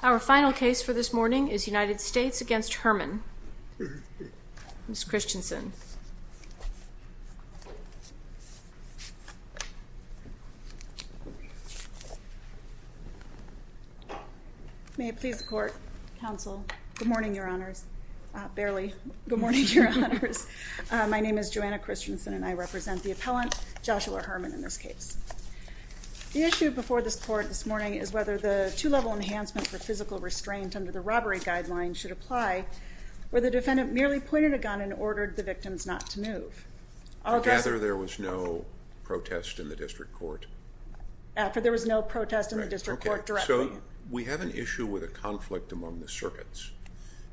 Our final case for this morning is United States v. Herman. Ms. Christensen. May it please the court, counsel, good morning, your honors, barely, good morning, your honors. My name is Joanna Christensen and I represent the appellant, Joshua Herman, in this case. The issue before this court this morning is whether the two-level enhancement for physical restraint under the robbery guideline should apply where the defendant merely pointed a gun and ordered the victims not to move. I gather there was no protest in the district court? After there was no protest in the district court directly. Okay, so we have an issue with a conflict among the circuits.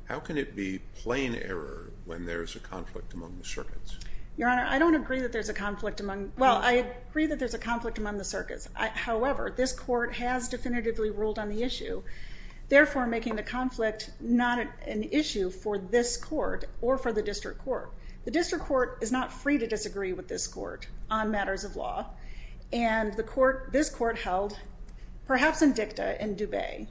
How can it be plain error when there's a conflict among the circuits? Your honor, I don't agree that there's a conflict among, well, I agree that there's a conflict among the circuits. However, this court has definitively ruled on the issue, therefore making the conflict not an issue for this court or for the district court. The district court is not free to disagree with this court on matters of law. And the court, this court held, perhaps in dicta in Dubay,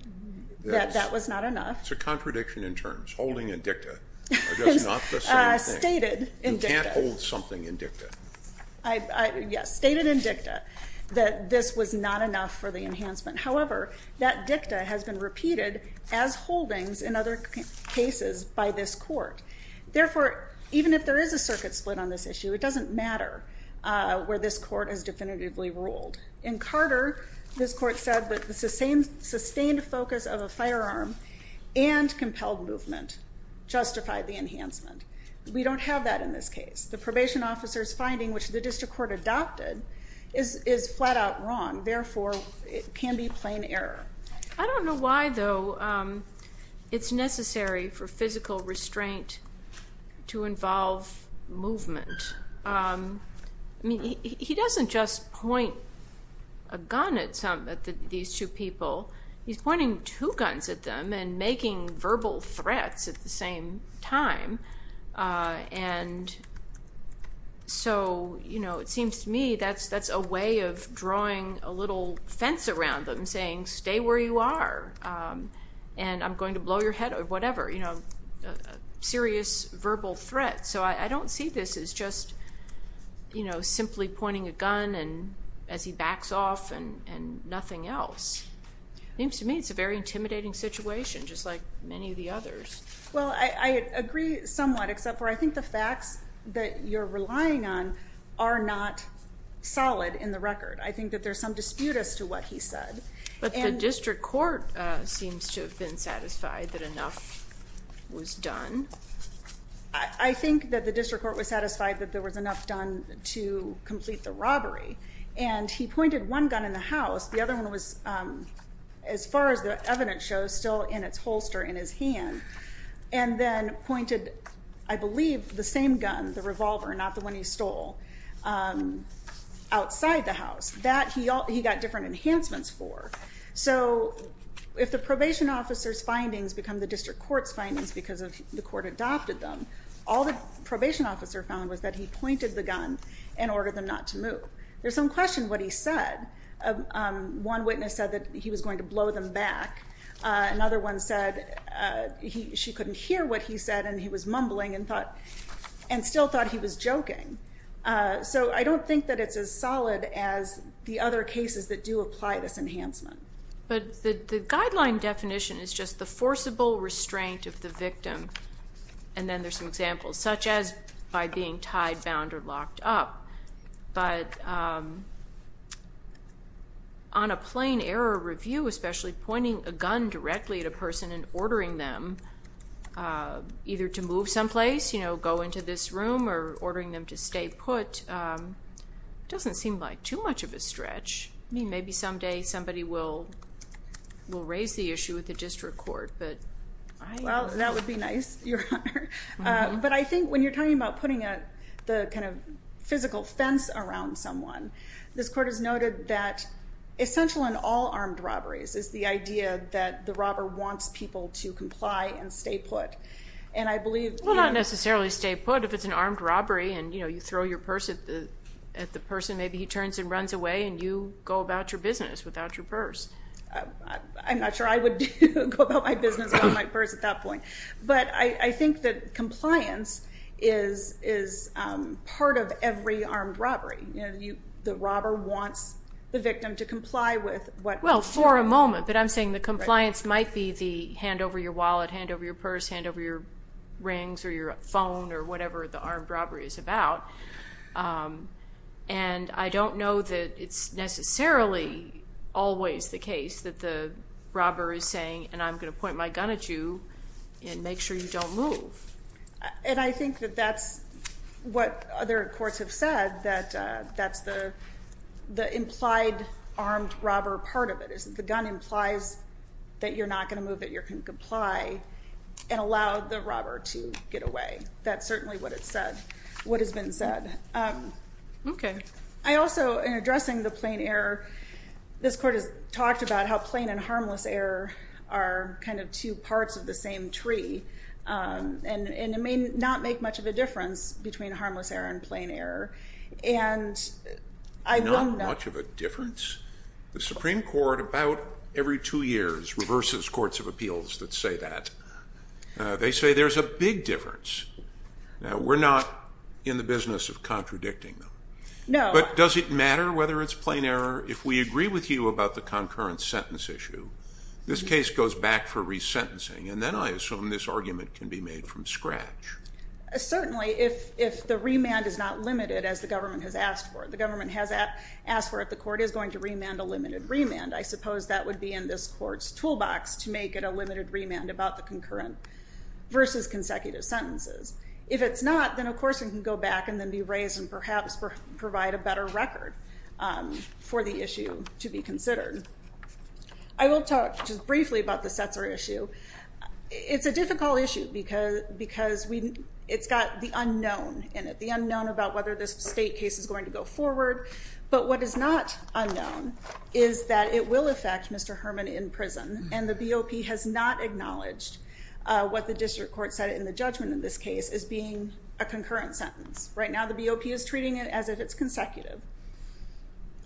that that was not enough. It's a contradiction in terms, holding in dicta. It's not the same thing. Stated in dicta. You can't hold something in dicta. Yes, stated in dicta that this was not enough for the enhancement. However, that dicta has been repeated as holdings in other cases by this court. Therefore, even if there is a circuit split on this issue, it doesn't matter where this court has definitively ruled. In Carter, this court said that the sustained focus of a firearm and compelled movement justified the enhancement. We don't have that in this case. The probation officer's finding, which the district court adopted, is flat out wrong. Therefore, it can be plain error. I don't know why, though, it's necessary for physical restraint to involve movement. I mean, he doesn't just point a gun at these two people. He's pointing two guns at them and making verbal threats at the same time. And so, you know, it seems to me that's a way of drawing a little fence around them, saying, stay where you are and I'm going to blow your head or whatever, you know, serious verbal threats. So I don't see this as just, you know, simply pointing a gun as he backs off and nothing else. It seems to me it's a very intimidating situation, just like many of the others. Well, I agree somewhat, except for I think the facts that you're relying on are not solid in the record. I think that there's some dispute as to what he said. But the district court seems to have been satisfied that enough was done. I think that the district court was satisfied that there was enough done to complete the robbery. And he pointed one gun in the house. The other one was, as far as the evidence shows, still in its holster in his hand. And then pointed, I believe, the same gun, the revolver, not the one he stole, outside the house. That he got different enhancements for. So if the probation officer's findings become the district court's findings because the court adopted them, all the probation officer found was that he pointed the gun and ordered them not to move. There's some question what he said. One witness said that he was going to blow them back. Another one said she couldn't hear what he said and he was mumbling and still thought he was joking. So I don't think that it's as solid as the other cases that do apply this enhancement. But the guideline definition is just the forcible restraint of the victim. And then there's some examples, such as by being tied, bound, or locked up. But on a plain error review, especially pointing a gun directly at a person and ordering them either to move someplace, you know, go into this room, or ordering them to stay put, doesn't seem like too much of a stretch. I mean, maybe someday somebody will raise the issue with the district court. Well, that would be nice, Your Honor. But I think when you're talking about putting the kind of physical fence around someone, this court has noted that essential in all armed robberies is the idea that the robber wants people to comply and stay put. Well, not necessarily stay put. If it's an armed robbery and, you know, you throw your purse at the person, maybe he turns and runs away and you go about your business without your purse. I'm not sure I would go about my business without my purse at that point. But I think that compliance is part of every armed robbery. You know, the robber wants the victim to comply with what he's told. Well, for a moment. But I'm saying the compliance might be the hand over your wallet, hand over your purse, hand over your rings or your phone or whatever the armed robbery is about. And I don't know that it's necessarily always the case that the robber is saying, and I'm going to point my gun at you and make sure you don't move. And I think that that's what other courts have said, that that's the implied armed robber part of it. The gun implies that you're not going to move, that you're going to comply and allow the robber to get away. That's certainly what it said, what has been said. Okay. I also, in addressing the plain error, this court has talked about how plain and harmless error are kind of two parts of the same tree. And it may not make much of a difference between harmless error and plain error. And I will not. Not much of a difference? The Supreme Court about every two years reverses courts of appeals that say that. They say there's a big difference. Now, we're not in the business of contradicting them. No. But does it matter whether it's plain error? If we agree with you about the concurrent sentence issue, this case goes back for resentencing. And then I assume this argument can be made from scratch. Certainly, if the remand is not limited, as the government has asked for. The government has asked for it. The court is going to remand a limited remand. I suppose that would be in this court's toolbox to make it a limited remand about the concurrent versus consecutive sentences. If it's not, then, of course, it can go back and then be raised and perhaps provide a better record for the issue to be considered. I will talk just briefly about the Setzer issue. It's a difficult issue because it's got the unknown in it, the unknown about whether this state case is going to go forward. But what is not unknown is that it will affect Mr. Herman in prison. And the BOP has not acknowledged what the district court said in the judgment in this case as being a concurrent sentence. Right now, the BOP is treating it as if it's consecutive,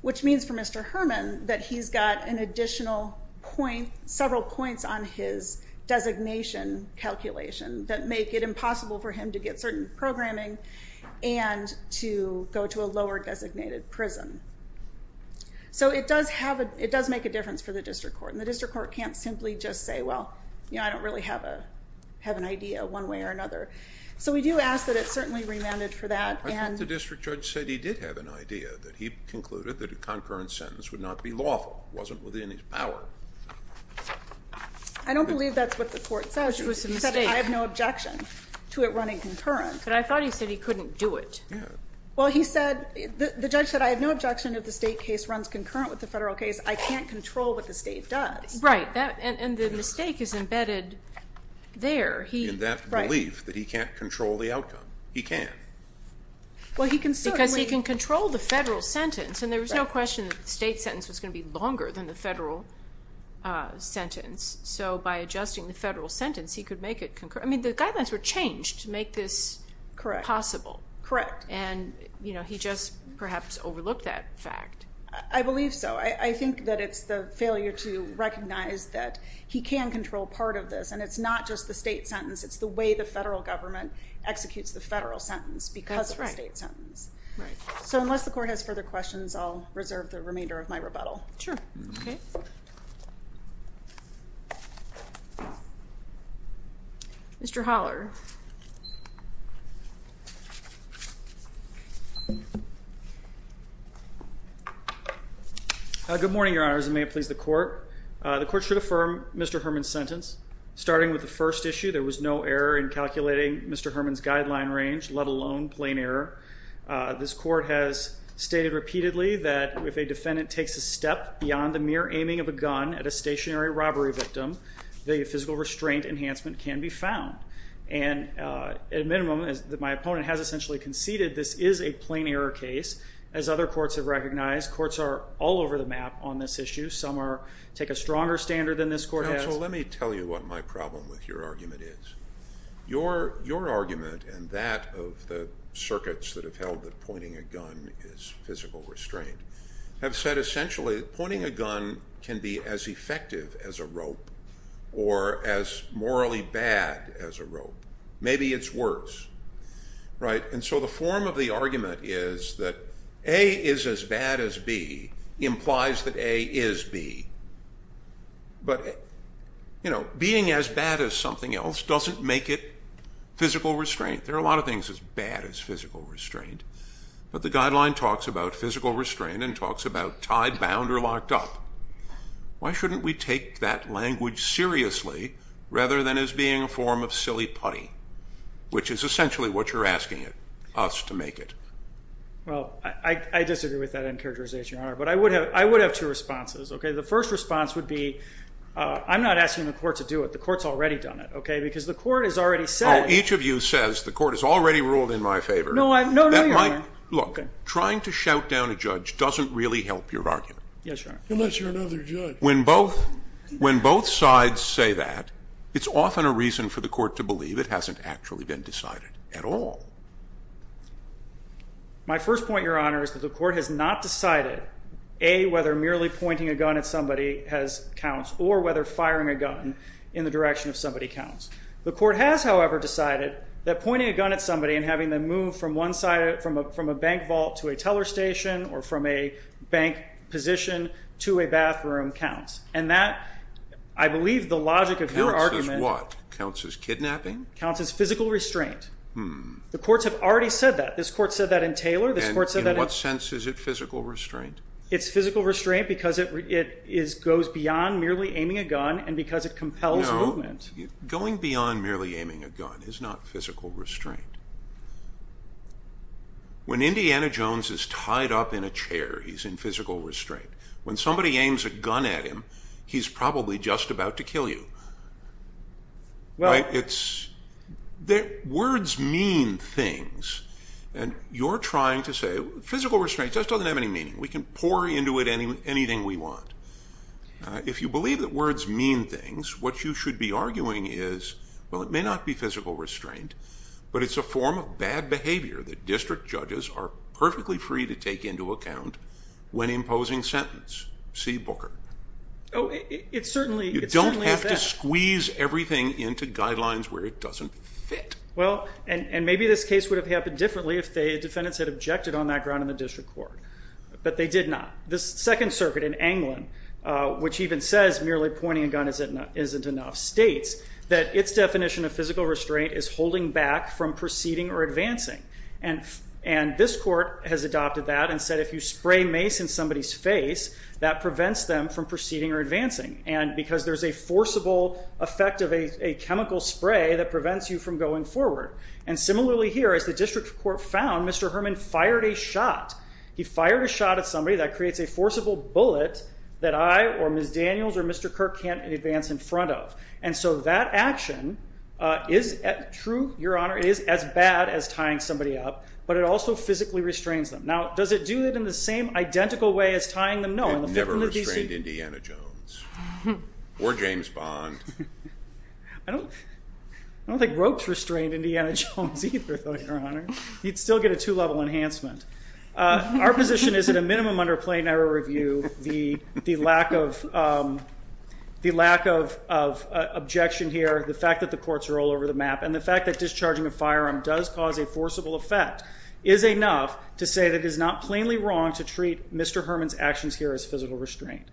which means for Mr. Herman that he's got an additional point, several points on his designation calculation that make it impossible for him to get certain programming and to go to a lower designated prison. So it does make a difference for the district court, and the district court can't simply just say, well, I don't really have an idea one way or another. So we do ask that it's certainly remanded for that. I think the district judge said he did have an idea, that he concluded that a concurrent sentence would not be lawful. It wasn't within his power. I don't believe that's what the court said. I have no objection to it running concurrent. But I thought he said he couldn't do it. Well, he said, the judge said, I have no objection if the state case runs concurrent with the federal case. I can't control what the state does. Right. And the mistake is embedded there. In that belief that he can't control the outcome. He can. Because he can control the federal sentence, and there was no question that the state sentence was going to be longer than the federal sentence. So by adjusting the federal sentence, he could make it concurrent. I mean, the guidelines were changed to make this possible. Correct. And he just perhaps overlooked that fact. I believe so. I think that it's the failure to recognize that he can control part of this, and it's not just the state sentence. It's the way the federal government executes the federal sentence because of the state sentence. That's right. So unless the court has further questions, I'll reserve the remainder of my rebuttal. Sure. Okay. Mr. Holler. Good morning, Your Honors, and may it please the court. The court should affirm Mr. Herman's sentence. Starting with the first issue, there was no error in calculating Mr. Herman's guideline range, let alone plain error. This court has stated repeatedly that if a defendant takes a step beyond the mere aiming of a gun at a stationary robbery victim, the physical restraint enhancement can be found. And at a minimum, my opponent has essentially conceded this is a plain error case. As other courts have recognized, courts are all over the map on this issue. Some take a stronger standard than this court has. Counsel, let me tell you what my problem with your argument is. Your argument and that of the circuits that have held that pointing a gun is physical restraint have said essentially pointing a gun can be as effective as a rope or as morally bad as a rope. Maybe it's worse. And so the form of the argument is that A is as bad as B implies that A is B. But being as bad as something else doesn't make it physical restraint. There are a lot of things as bad as physical restraint. But the guideline talks about physical restraint and talks about tied, bound, or locked up. Why shouldn't we take that language seriously rather than as being a form of silly putty, which is essentially what you're asking us to make it? Well, I disagree with that characterization, Your Honor. But I would have two responses. The first response would be I'm not asking the court to do it. The court's already done it because the court has already said. Oh, each of you says the court has already ruled in my favor. No, no, Your Honor. Look, trying to shout down a judge doesn't really help your argument. Yes, Your Honor. Unless you're another judge. When both sides say that, it's often a reason for the court to believe it hasn't actually been decided at all. My first point, Your Honor, is that the court has not decided A, whether merely pointing a gun at somebody counts or whether firing a gun in the direction of somebody counts. The court has, however, decided that pointing a gun at somebody and having them move from a bank vault to a teller station or from a bank position to a bathroom counts. And that, I believe, the logic of your argument… Counts as what? Counts as kidnapping? Counts as physical restraint. The courts have already said that. This court said that in Taylor. In what sense is it physical restraint? It's physical restraint because it goes beyond merely aiming a gun and because it compels movement. Going beyond merely aiming a gun is not physical restraint. When Indiana Jones is tied up in a chair, he's in physical restraint. When somebody aims a gun at him, he's probably just about to kill you. Words mean things, and you're trying to say… Physical restraint just doesn't have any meaning. We can pour into it anything we want. If you believe that words mean things, what you should be arguing is, well, it may not be physical restraint, but it's a form of bad behavior that district judges are perfectly free to take into account when imposing sentence. See Booker. Oh, it certainly is that. You don't have to squeeze everything into guidelines where it doesn't fit. Well, and maybe this case would have happened differently if the defendants had objected on that ground in the district court. But they did not. The Second Circuit in England, which even says merely pointing a gun isn't enough, states that its definition of physical restraint is holding back from proceeding or advancing. And this court has adopted that and said if you spray mace in somebody's face, that prevents them from proceeding or advancing because there's a forcible effect of a chemical spray that prevents you from going forward. And similarly here, as the district court found, Mr. Herman fired a shot. He fired a shot at somebody that creates a forcible bullet that I or Ms. Daniels or Mr. Kirk can't advance in front of. And so that action is true, Your Honor, it is as bad as tying somebody up, but it also physically restrains them. Now, does it do it in the same identical way as tying them? No. It never restrained Indiana Jones or James Bond. I don't think ropes restrained Indiana Jones either, Your Honor. He'd still get a two-level enhancement. Our position is that a minimum under plain error review, the lack of objection here, the fact that the courts are all over the map, and the fact that discharging a firearm does cause a forcible effect, is enough to say that it is not plainly wrong to treat Mr. Herman's actions here as physical restraint.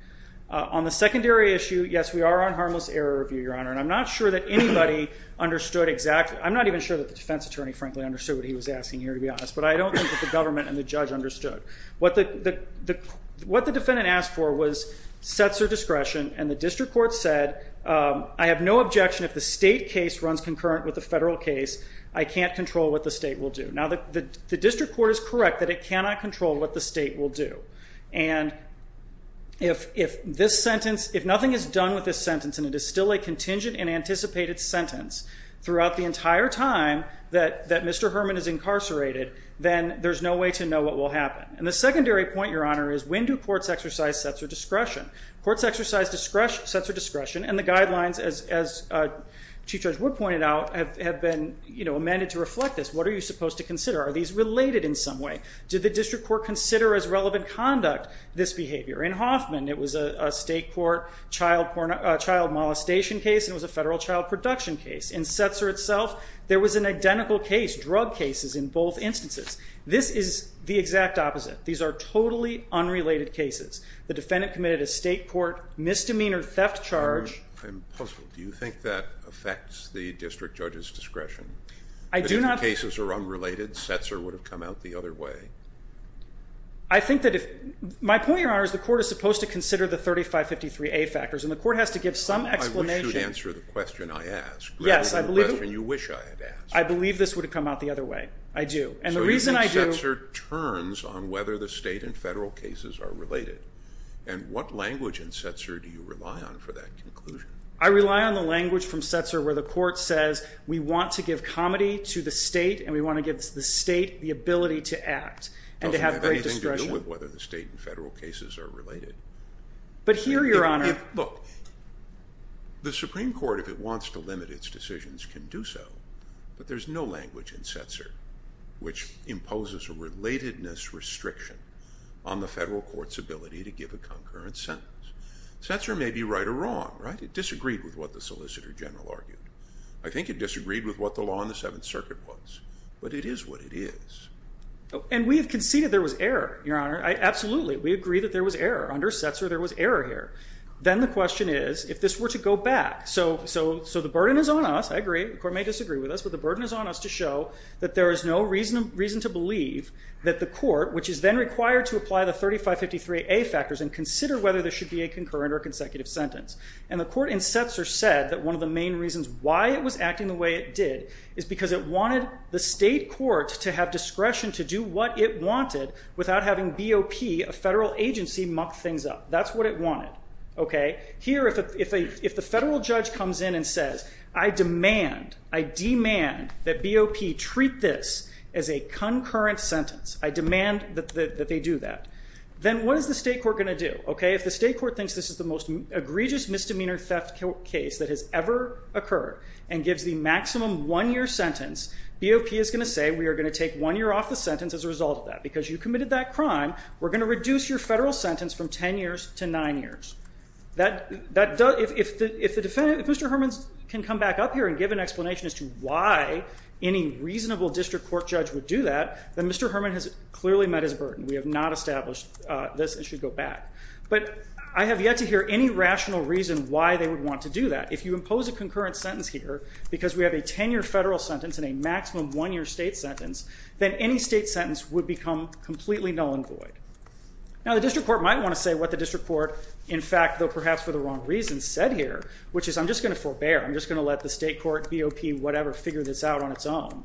On the secondary issue, yes, we are on harmless error review, Your Honor, and I'm not sure that anybody understood exactly. I'm not even sure that the defense attorney, frankly, understood what he was asking here, to be honest. But I don't think that the government and the judge understood. What the defendant asked for was sets or discretion, and the district court said, I have no objection if the state case runs concurrent with the federal case. I can't control what the state will do. Now, the district court is correct that it cannot control what the state will do. And if this sentence, if nothing is done with this sentence, and it is still a contingent and anticipated sentence throughout the entire time that Mr. Herman is incarcerated, then there's no way to know what will happen. And the secondary point, Your Honor, is when do courts exercise sets or discretion? Courts exercise sets or discretion, and the guidelines, as Chief Judge Wood pointed out, have been amended to reflect this. What are you supposed to consider? Are these related in some way? Did the district court consider as relevant conduct this behavior? In Hoffman, it was a state court child molestation case, and it was a federal child production case. In Setzer itself, there was an identical case, drug cases in both instances. This is the exact opposite. These are totally unrelated cases. The defendant committed a state court misdemeanor theft charge. I'm puzzled. Do you think that affects the district judge's discretion? I do not. But if the cases are unrelated, Setzer would have come out the other way. I think that if my point, Your Honor, is the court is supposed to consider the 3553A factors, and the court has to give some explanation. I wish you'd answer the question I asked. Yes, I believe it. You wish I had asked. I believe this would have come out the other way. I do. And the reason I do— So you think Setzer turns on whether the state and federal cases are related. And what language in Setzer do you rely on for that conclusion? I rely on the language from Setzer where the court says, we want to give comedy to the state, and we want to give the state the ability to act and to have great discretion. It doesn't have anything to do with whether the state and federal cases are related. But here, Your Honor— Look, the Supreme Court, if it wants to limit its decisions, can do so. But there's no language in Setzer which imposes a relatedness restriction on the federal court's ability to give a concurrent sentence. Setzer may be right or wrong, right? It disagreed with what the Solicitor General argued. I think it disagreed with what the law in the Seventh Circuit was. But it is what it is. And we have conceded there was error, Your Honor. Absolutely. We agree that there was error. Under Setzer, there was error here. Then the question is, if this were to go back— So the burden is on us. I agree. The court may disagree with us. But the burden is on us to show that there is no reason to believe that the court, which is then required to apply the 3553A factors and consider whether there should be a concurrent or consecutive sentence. And the court in Setzer said that one of the main reasons why it was acting the way it did is because it wanted the state court to have discretion to do what it wanted without having BOP, a federal agency, muck things up. That's what it wanted. Here, if the federal judge comes in and says, I demand, I demand that BOP treat this as a concurrent sentence. I demand that they do that. Then what is the state court going to do? If the state court thinks this is the most egregious misdemeanor theft case that has ever occurred and gives the maximum one-year sentence, BOP is going to say we are going to take one year off the sentence as a result of that because you committed that crime. We are going to reduce your federal sentence from ten years to nine years. If Mr. Herman can come back up here and give an explanation as to why any reasonable district court judge would do that, then Mr. Herman has clearly met his burden. We have not established this. It should go back. But I have yet to hear any rational reason why they would want to do that. If you impose a concurrent sentence here because we have a ten-year federal sentence and a maximum one-year state sentence, then any state sentence would become completely null and void. Now the district court might want to say what the district court, in fact, though perhaps for the wrong reasons, said here, which is I'm just going to forbear. I'm just going to let the state court, BOP, whatever, figure this out on its own.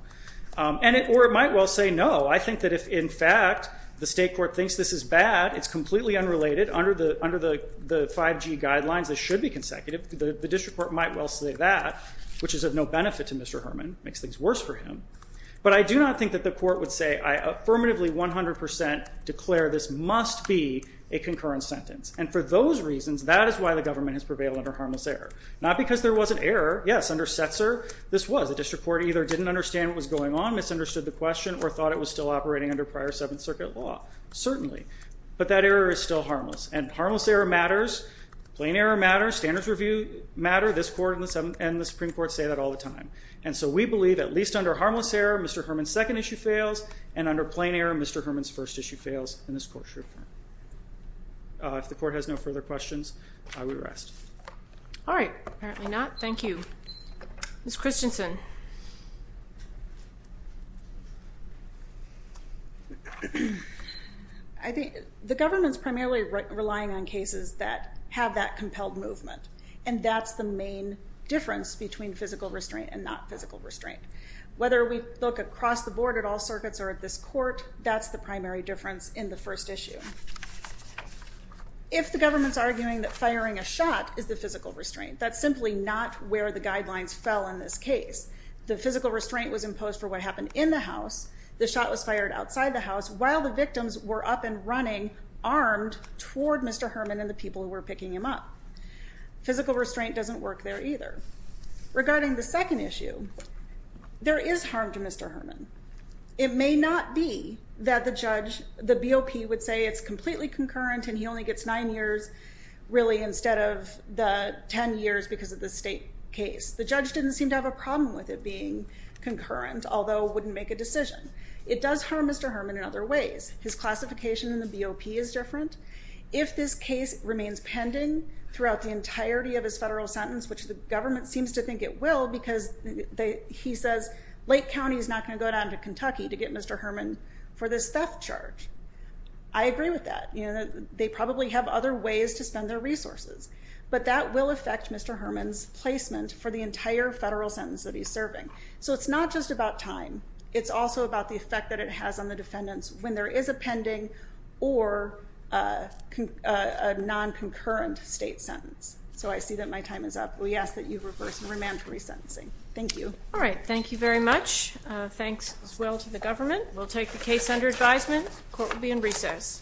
Or it might well say no. I think that if, in fact, the state court thinks this is bad, it's completely unrelated under the 5G guidelines. This should be consecutive. The district court might well say that, which is of no benefit to Mr. Herman. It makes things worse for him. But I do not think that the court would say, I affirmatively 100% declare this must be a concurrent sentence. And for those reasons, that is why the government has prevailed under harmless error. Not because there wasn't error. Yes, under Setzer, this was. The district court either didn't understand what was going on, misunderstood the question, or thought it was still operating under prior Seventh Circuit law. Certainly. But that error is still harmless. And harmless error matters. Plain error matters. Standards review matters. This court and the Supreme Court say that all the time. And so we believe, at least under harmless error, Mr. Herman's second issue fails. And under plain error, Mr. Herman's first issue fails. And this court should affirm. If the court has no further questions, I will rest. All right. Apparently not. Thank you. Ms. Christensen. I think the government's primarily relying on cases that have that compelled movement. And that's the main difference between physical restraint and not physical restraint. Whether we look across the board at all circuits or at this court, that's the primary difference in the first issue. If the government's arguing that firing a shot is the physical restraint, that's simply not where the guidelines fell in this case. The physical restraint was imposed for what happened in the house. The shot was fired outside the house while the victims were up and running, armed toward Mr. Herman and the people who were picking him up. Physical restraint doesn't work there either. Regarding the second issue, there is harm to Mr. Herman. It may not be that the judge, the BOP, would say it's completely concurrent and he only gets nine years really instead of the ten years because of the state case. The judge didn't seem to have a problem with it being concurrent, although wouldn't make a decision. It does harm Mr. Herman in other ways. His classification in the BOP is different. If this case remains pending throughout the entirety of his federal sentence, which the government seems to think it will because he says, Lake County is not going to go down to Kentucky to get Mr. Herman for this theft charge. I agree with that. They probably have other ways to spend their resources. But that will affect Mr. Herman's placement for the entire federal sentence that he's serving. So it's not just about time. It's also about the effect that it has on the defendants when there is a pending or a non-concurrent state sentence. So I see that my time is up. We ask that you reverse the remand for resentencing. Thank you. All right. Thank you very much. Thanks as well to the government. We'll take the case under advisement. Court will be in recess.